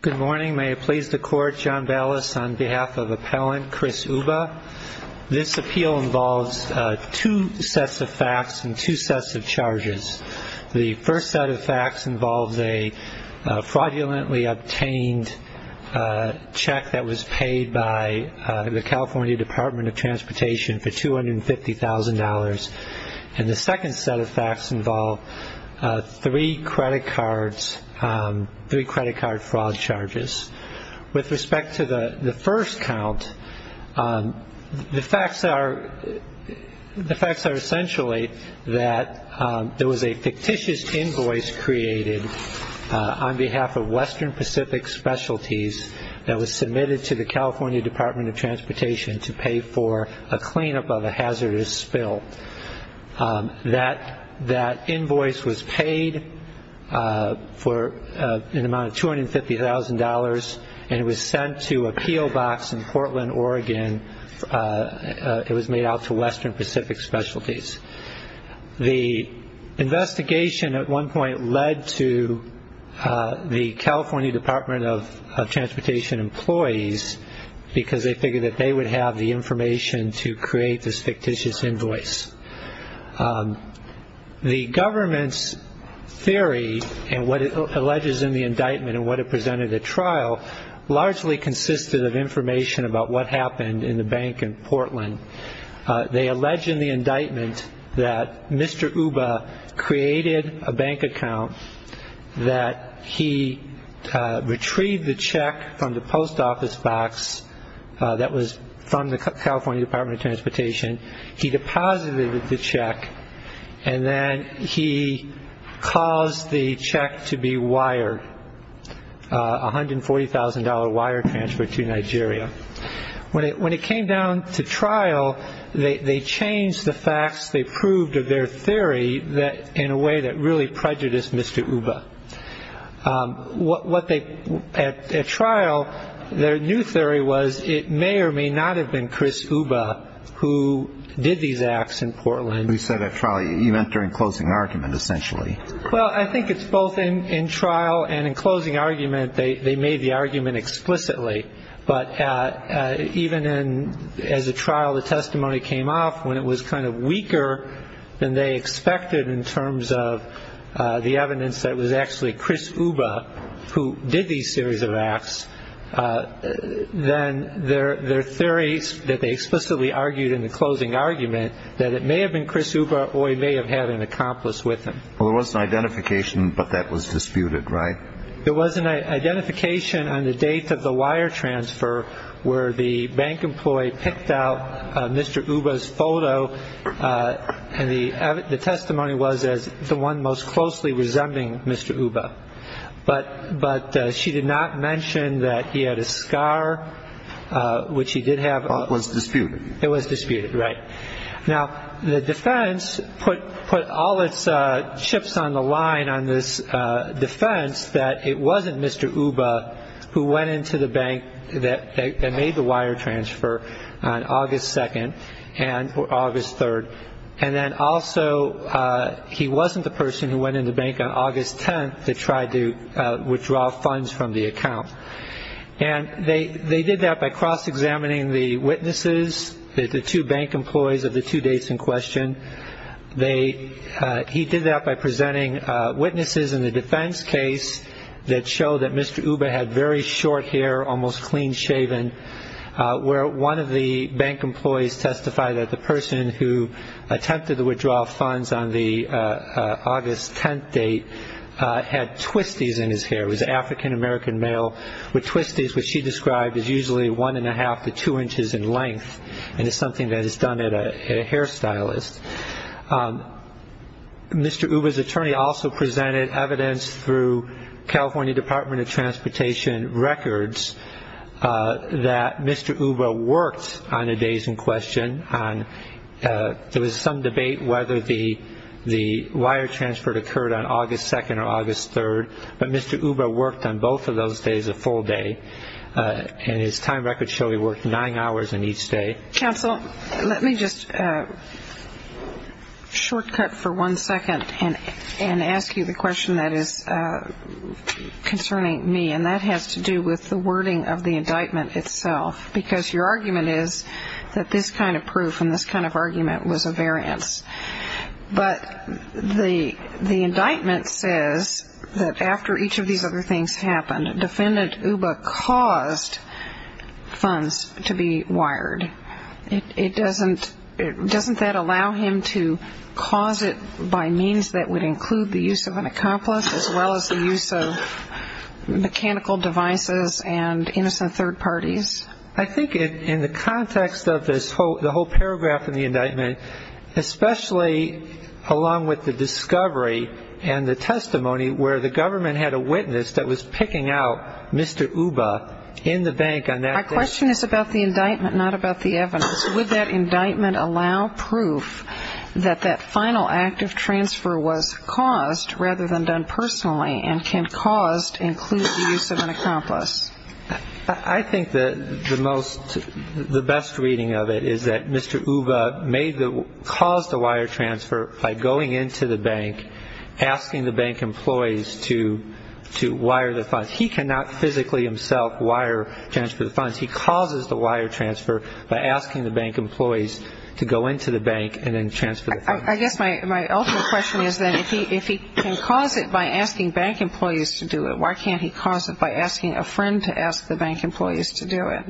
Good morning. May it please the Court, John Ballas, on behalf of Appellant Chris Ubah. This appeal involves two sets of facts and two sets of charges. The first set of facts involves a fraudulently obtained check that was paid by the California Department of Transportation for $250,000. And the second set of facts involve three credit card fraud charges. With respect to the first count, the facts are essentially that there was a fictitious invoice created on behalf of Western Pacific Specialties that was submitted to the California Department of Transportation to pay for a cleanup of a hazardous spill. That invoice was paid for an amount of $250,000, and it was sent to a PO box in Portland, Oregon. It was made out to Western Pacific Specialties. The investigation at one point led to the California Department of Transportation employees, because they figured that they would have the information to create this fictitious invoice. The government's theory and what it alleges in the indictment and what it presented at trial largely consisted of information about what happened in the bank in Portland. They allege in the indictment that Mr. Uba created a bank account, that he retrieved the check from the post office box that was from the California Department of Transportation. He deposited the check, and then he caused the check to be wired, a $140,000 wire transfer to Nigeria. When it came down to trial, they changed the facts. They proved their theory in a way that really prejudiced Mr. Uba. At trial, their new theory was it may or may not have been Chris Uba who did these acts in Portland. You said at trial. You meant during closing argument, essentially. Well, I think it's both in trial and in closing argument. They made the argument explicitly. But even as a trial, the testimony came off when it was kind of weaker than they expected in terms of the evidence that it was actually Chris Uba who did these series of acts. Then their theories that they explicitly argued in the closing argument that it may have been Chris Uba or he may have had an accomplice with him. Well, there was an identification, but that was disputed, right? There was an identification on the date of the wire transfer where the bank employee picked out Mr. Uba's photo, and the testimony was as the one most closely resembling Mr. Uba. But she did not mention that he had a scar, which he did have. It was disputed. It was disputed, right. Now, the defense put all its chips on the line on this defense that it wasn't Mr. Uba who went into the bank that made the wire transfer on August 2nd or August 3rd. And then also he wasn't the person who went into the bank on August 10th that tried to withdraw funds from the account. And they did that by cross-examining the witnesses, the two bank employees of the two dates in question. He did that by presenting witnesses in the defense case that showed that Mr. Uba had very short hair, almost clean-shaven, where one of the bank employees testified that the person who attempted to withdraw funds on the August 10th date had twisties in his hair. It was an African-American male with twisties, which she described as usually one and a half to two inches in length, and it's something that is done at a hairstylist. Mr. Uba's attorney also presented evidence through California Department of Transportation records that Mr. Uba worked on the days in question. There was some debate whether the wire transfer occurred on August 2nd or August 3rd, but Mr. Uba worked on both of those days a full day, and his time record showed he worked nine hours on each day. Counsel, let me just shortcut for one second and ask you the question that is concerning me, and that has to do with the wording of the indictment itself, because your argument is that this kind of proof and this kind of argument was a variance. But the indictment says that after each of these other things happened, Defendant Uba caused funds to be wired. Doesn't that allow him to cause it by means that would include the use of an accomplice as well as the use of mechanical devices and innocent third parties? I think in the context of the whole paragraph in the indictment, especially along with the discovery and the testimony where the government had a witness that was picking out Mr. Uba in the bank on that day. My question is about the indictment, not about the evidence. Would that indictment allow proof that that final act of transfer was caused rather than done personally and can caused include the use of an accomplice? I think the most, the best reading of it is that Mr. Uba caused the wire transfer by going into the bank, asking the bank employees to wire the funds. He cannot physically himself wire transfer the funds. He causes the wire transfer by asking the bank employees to go into the bank and then transfer the funds. I guess my ultimate question is then if he can cause it by asking bank employees to do it, why can't he cause it by asking a friend to ask the bank employees to do it?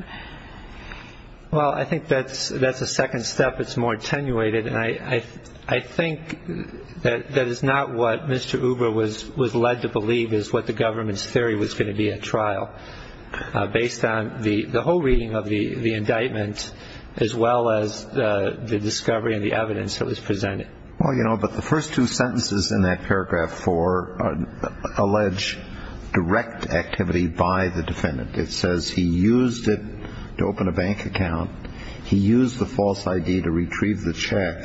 Well, I think that's a second step. It's more attenuated, and I think that is not what Mr. Uba was led to believe is what the government's theory was going to be at trial based on the whole reading of the indictment as well as the discovery and the evidence that was presented. Well, you know, but the first two sentences in that paragraph four allege direct activity by the defendant. It says he used it to open a bank account. He used the false ID to retrieve the check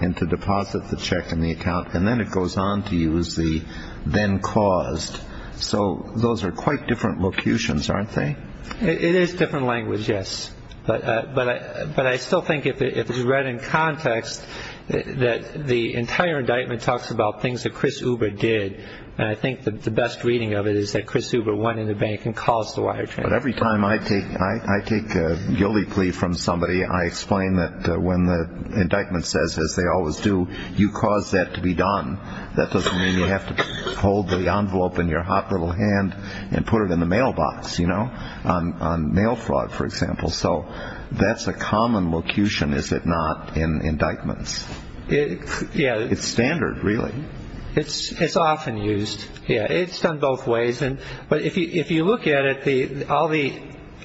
and to deposit the check in the account, and then it goes on to use the then caused. So those are quite different locutions, aren't they? It is different language, yes. But I still think if you read in context that the entire indictment talks about things that Chris Uba did, and I think the best reading of it is that Chris Uba went into the bank and caused the wire transfer. But every time I take a guilty plea from somebody, I explain that when the indictment says, as they always do, you caused that to be done, that doesn't mean you have to hold the envelope in your hot little hand and put it in the mailbox, you know, on mail fraud, for example. So that's a common locution, is it not, in indictments? Yeah. It's standard, really. It's often used, yeah. It's done both ways. But if you look at it,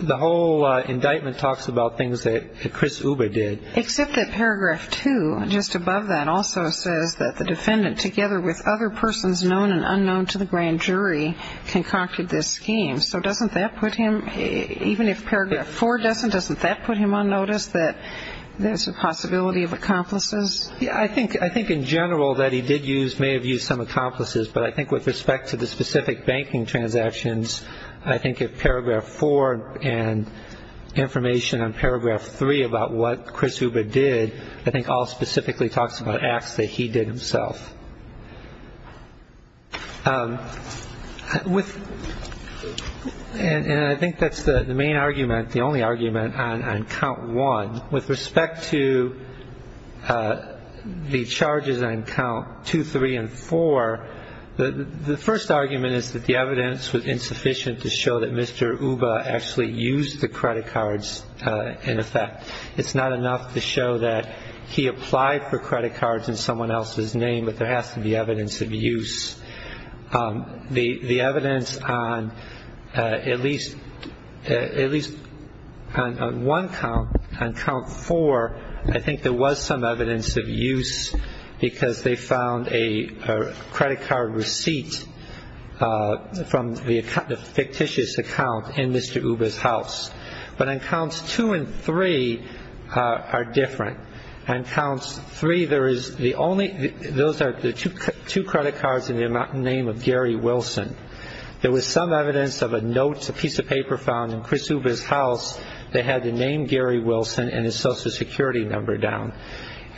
the whole indictment talks about things that Chris Uba did. Except that paragraph two, just above that, also says that the defendant, together with other persons known and unknown to the grand jury, concocted this scheme. So doesn't that put him, even if paragraph four doesn't, doesn't that put him on notice that there's a possibility of accomplices? Yeah. I think in general that he did use, may have used some accomplices, but I think with respect to the specific banking transactions, I think if paragraph four and information on paragraph three about what Chris Uba did, I think all specifically talks about acts that he did himself. And I think that's the main argument, the only argument on count one. With respect to the charges on count two, three, and four, the first argument is that the evidence was insufficient to show that Mr. Uba actually used the credit cards in effect. It's not enough to show that he applied for credit cards in someone else's name but there has to be evidence of use. The evidence on at least one count, on count four, I think there was some evidence of use because they found a credit card receipt from the fictitious account in Mr. Uba's house. But on counts two and three are different. On counts three, there is the only, those are the two credit cards in the name of Gary Wilson. There was some evidence of a note, a piece of paper found in Chris Uba's house that had the name Gary Wilson and his social security number down.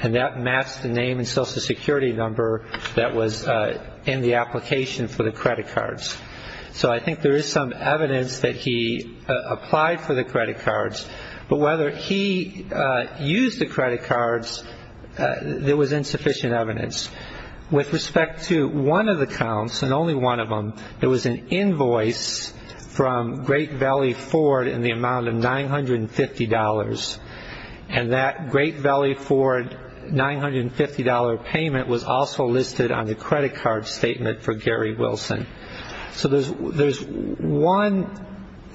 And that matched the name and social security number that was in the application for the credit cards. So I think there is some evidence that he applied for the credit cards, but whether he used the credit cards, there was insufficient evidence. With respect to one of the counts, and only one of them, there was an invoice from Great Valley Ford in the amount of $950. And that Great Valley Ford $950 payment was also listed on the credit card statement for Gary Wilson. So there's one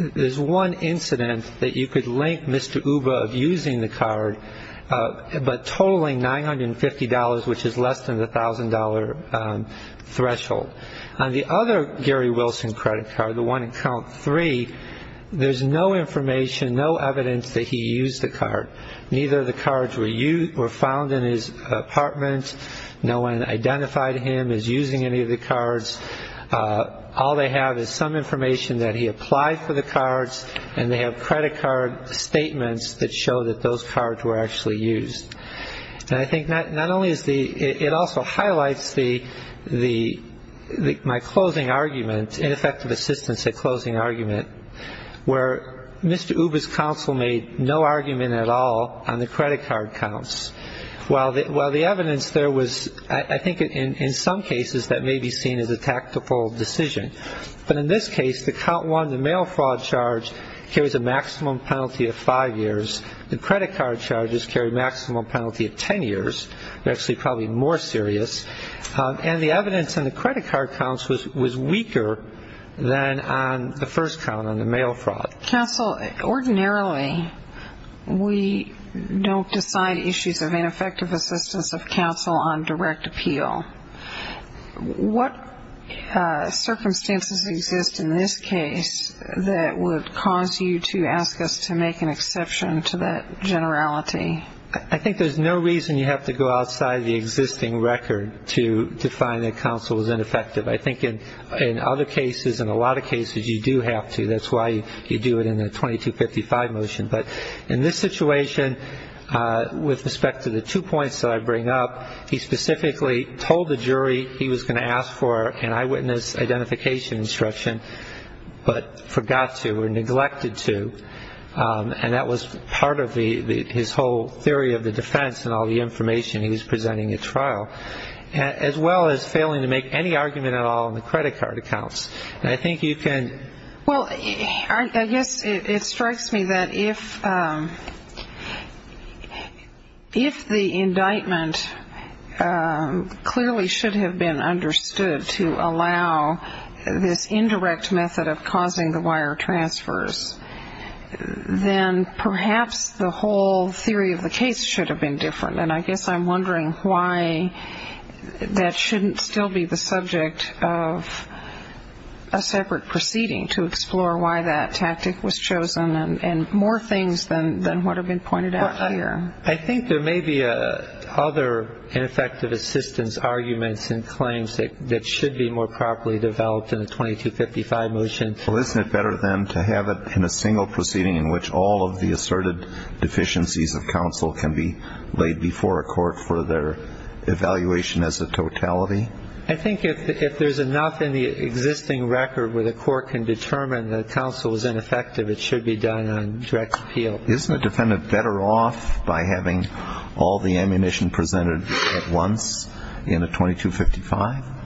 incident that you could link Mr. Uba of using the card, but totaling $950, which is less than the $1,000 threshold. On the other Gary Wilson credit card, the one in count three, there's no information, no evidence that he used the card. Neither of the cards were found in his apartment. No one identified him as using any of the cards. All they have is some information that he applied for the cards, and they have credit card statements that show that those cards were actually used. And I think not only is the – it also highlights the – my closing argument, ineffective assistance at closing argument, where Mr. Uba's counsel made no argument at all on the credit card counts. While the evidence there was – I think in some cases that may be seen as a tactical decision. But in this case, the count one, the mail fraud charge, carries a maximum penalty of five years. The credit card charges carry a maximum penalty of 10 years. They're actually probably more serious. And the evidence on the credit card counts was weaker than on the first count, on the mail fraud. Counsel, ordinarily we don't decide issues of ineffective assistance of counsel on direct appeal. What circumstances exist in this case that would cause you to ask us to make an exception to that generality? I think there's no reason you have to go outside the existing record to define that counsel is ineffective. I think in other cases, in a lot of cases, you do have to. That's why you do it in the 2255 motion. But in this situation, with respect to the two points that I bring up, he specifically told the jury he was going to ask for an eyewitness identification instruction, but forgot to or neglected to. And that was part of his whole theory of the defense and all the information he was presenting at trial, as well as failing to make any argument at all on the credit card accounts. I think you can. Well, I guess it strikes me that if the indictment clearly should have been understood to allow this indirect method of causing the wire transfers, then perhaps the whole theory of the case should have been different. And I guess I'm wondering why that shouldn't still be the subject of a separate proceeding to explore why that tactic was chosen and more things than what have been pointed out here. I think there may be other ineffective assistance arguments and claims that should be more properly developed in the 2255 motion. Well, isn't it better, then, to have it in a single proceeding in which all of the asserted deficiencies of counsel can be laid before a court for their evaluation as a totality? I think if there's enough in the existing record where the court can determine that counsel is ineffective, it should be done on direct appeal. Isn't a defendant better off by having all the ammunition presented at once in a 2255?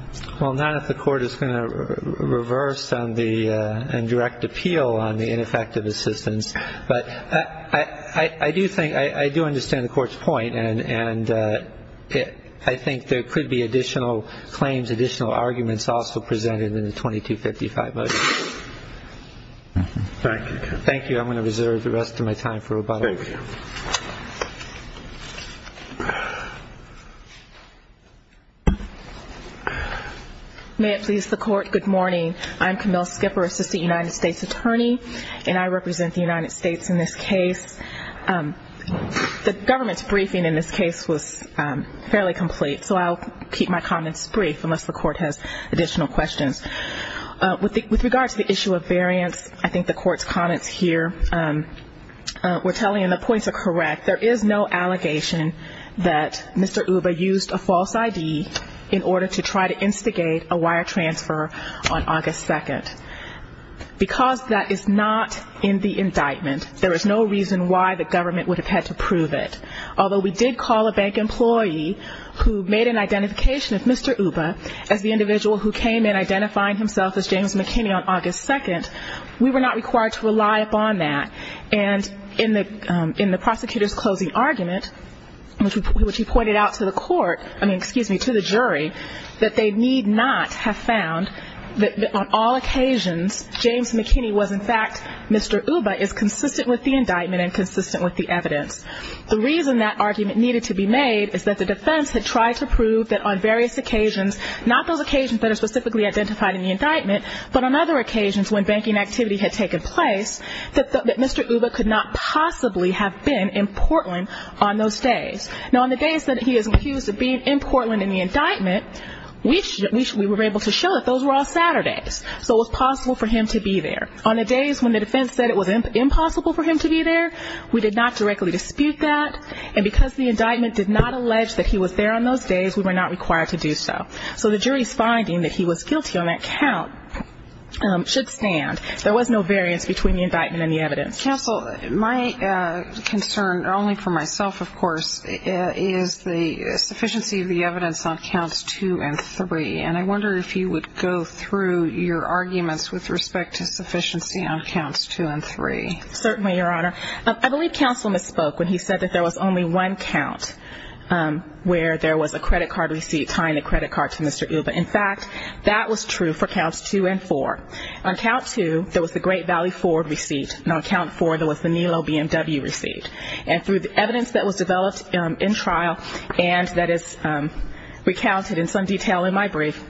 Well, not if the court is going to reverse and direct appeal on the ineffective assistance. But I do understand the court's point, and I think there could be additional claims, additional arguments also presented in the 2255 motion. Thank you. Thank you. I'm going to reserve the rest of my time for rebuttal. Thank you. May it please the court, good morning. I'm Camille Skipper, assistant United States attorney, and I represent the United States in this case. The government's briefing in this case was fairly complete, so I'll keep my comments brief unless the court has additional questions. With regard to the issue of variance, I think the court's comments here were telling, and the points are correct, there is no allegation that Mr. Uba used a false ID in order to try to instigate a wire transfer on August 2nd. Because that is not in the indictment, there is no reason why the government would have had to prove it. Although we did call a bank employee who made an identification of Mr. Uba as the individual who came in identifying himself as James McKinney on August 2nd, we were not required to rely upon that. And in the prosecutor's closing argument, which he pointed out to the court, I mean, excuse me, to the jury, that they need not have found that on all occasions James McKinney was, in fact, Mr. Uba is consistent with the indictment and consistent with the evidence. The reason that argument needed to be made is that the defense had tried to prove that on various occasions, not those occasions that are specifically identified in the indictment, but on other occasions when banking activity had taken place, that Mr. Uba could not possibly have been in Portland on those days. Now, on the days that he was accused of being in Portland in the indictment, we were able to show that those were all Saturdays, so it was possible for him to be there. On the days when the defense said it was impossible for him to be there, we did not directly dispute that. And because the indictment did not allege that he was there on those days, we were not required to do so. So the jury's finding that he was guilty on that count should stand. There was no variance between the indictment and the evidence. Counsel, my concern, only for myself, of course, is the sufficiency of the evidence on counts two and three, and I wonder if you would go through your arguments with respect to sufficiency on counts two and three. Certainly, Your Honor. I believe counsel misspoke when he said that there was only one count where there was a credit card receipt tying the credit card to Mr. Uba. In fact, that was true for counts two and four. On count two, there was the Great Valley Ford receipt, and on count four, there was the Nilo BMW receipt. And through the evidence that was developed in trial and that is recounted in some detail in my brief,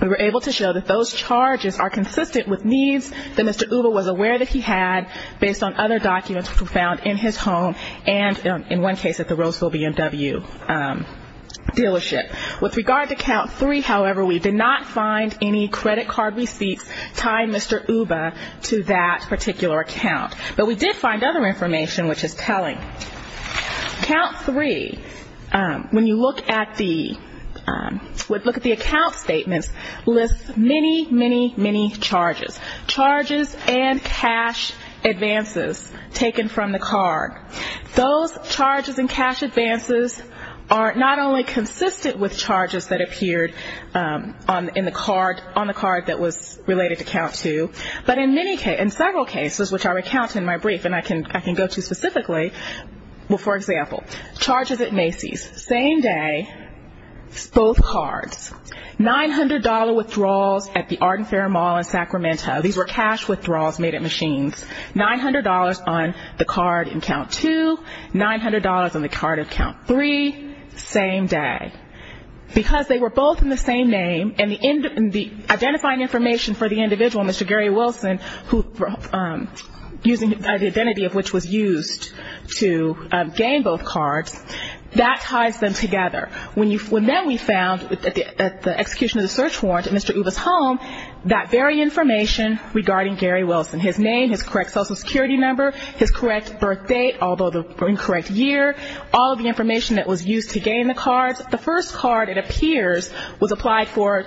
we were able to show that those charges are consistent with needs that Mr. Uba was aware that he had based on other documents found in his home and, in one case, at the Roseville BMW dealership. With regard to count three, however, we did not find any credit card receipts tying Mr. Uba to that particular account. But we did find other information which is telling. Count three, when you look at the account statements, lists many, many, many charges. Charges and cash advances taken from the card. Those charges and cash advances are not only consistent with charges that appeared on the card that was related to count two, but in several cases, which I recount in my brief and I can go to specifically, well, for example, charges at Macy's. Same day, both cards. $900 withdrawals at the Arden Fair Mall in Sacramento. These were cash withdrawals made at Macy's. $900 on the card in count two. $900 on the card in count three. Same day. Because they were both in the same name and the identifying information for the individual, Mr. Gary Wilson, using the identity of which was used to gain both cards, that ties them together. When then we found at the execution of the search warrant at Mr. Uba's home, that very information regarding Gary Wilson, his name, his correct social security number, his correct birth date, although the incorrect year, all of the information that was used to gain the cards, the first card, it appears, was applied for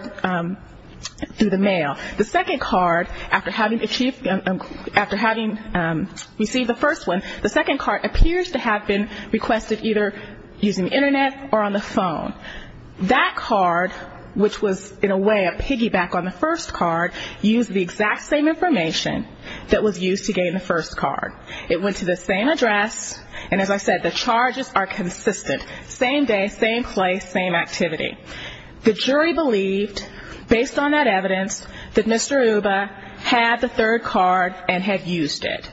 through the mail. The second card, after having received the first one, the second card appears to have been requested either using the Internet or on the phone. That card, which was in a way a piggyback on the first card, used the exact same information that was used to gain the first card. It went to the same address, and as I said, the charges are consistent. Same day, same place, same activity. The jury believed, based on that evidence, that Mr. Uba had the third card and had used it.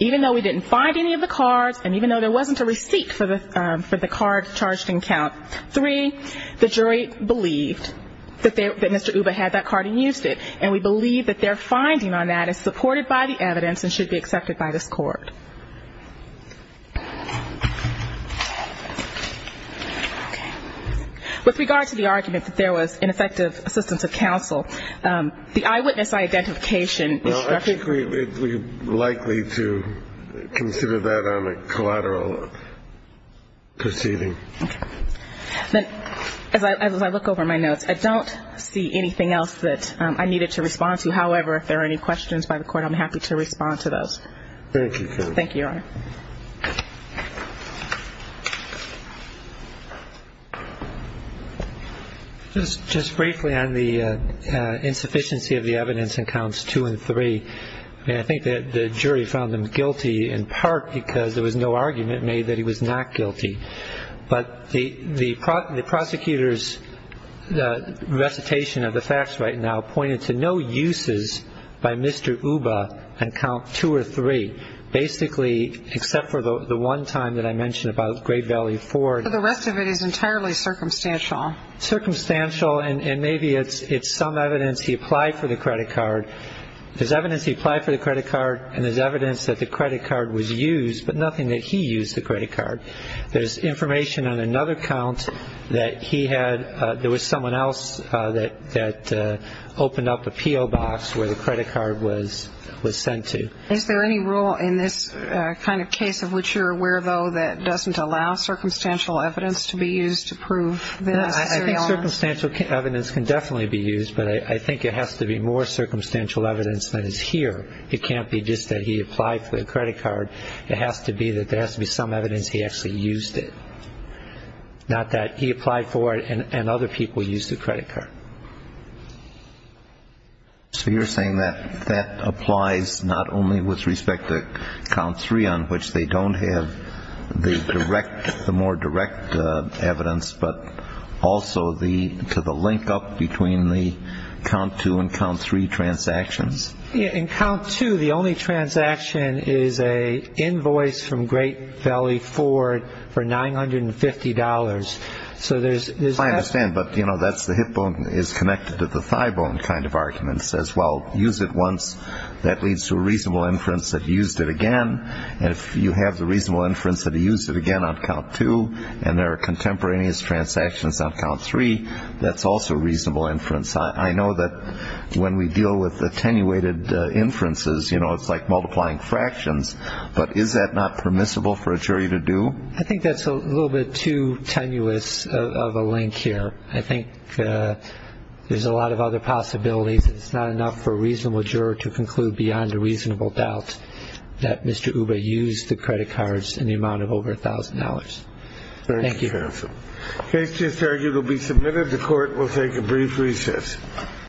Even though we didn't find any of the cards, and even though there wasn't a receipt for the card charged in count three, the jury believed that Mr. Uba had that card and used it, and we believe that their finding on that is supported by the evidence and should be accepted by this court. Okay. With regard to the argument that there was ineffective assistance of counsel, the eyewitness identification is structurally... Well, I think we're likely to consider that on a collateral proceeding. Okay. Then, as I look over my notes, I don't see anything else that I needed to respond to. However, if there are any questions by the court, I'm happy to respond to those. Thank you. Thank you, Your Honor. Just briefly on the insufficiency of the evidence in counts two and three, I think that the jury found him guilty in part because there was no argument made that he was not guilty. But the prosecutor's recitation of the facts right now pointed to no uses by Mr. Uba on count two or three basically except for the one time that I mentioned about grade value four. The rest of it is entirely circumstantial. Circumstantial, and maybe it's some evidence he applied for the credit card. There's evidence he applied for the credit card, and there's evidence that the credit card was used, but nothing that he used the credit card. There's information on another count that he had. There was someone else that opened up a P.O. box where the credit card was sent to. Is there any rule in this kind of case of which you're aware, though, that doesn't allow circumstantial evidence to be used to prove this? I think circumstantial evidence can definitely be used, but I think it has to be more circumstantial evidence than is here. It can't be just that he applied for the credit card. It has to be that there has to be some evidence he actually used it, not that he applied for it and other people used the credit card. So you're saying that that applies not only with respect to count three, on which they don't have the direct, the more direct evidence, but also to the link up between the count two and count three transactions. In count two, the only transaction is an invoice from Great Valley Ford for $950. I understand, but that's the hip bone is connected to the thigh bone kind of argument. It says, well, use it once. That leads to a reasonable inference that he used it again, and if you have the reasonable inference that he used it again on count two and there are contemporaneous transactions on count three, that's also reasonable inference. I know that when we deal with attenuated inferences, it's like multiplying fractions, but is that not permissible for a jury to do? I think that's a little bit too tenuous of a link here. I think there's a lot of other possibilities. It's not enough for a reasonable juror to conclude beyond a reasonable doubt that Mr. Uba used the credit cards in the amount of over $1,000. Thank you. Thank you, counsel. The case is to be submitted. The court will take a brief recess.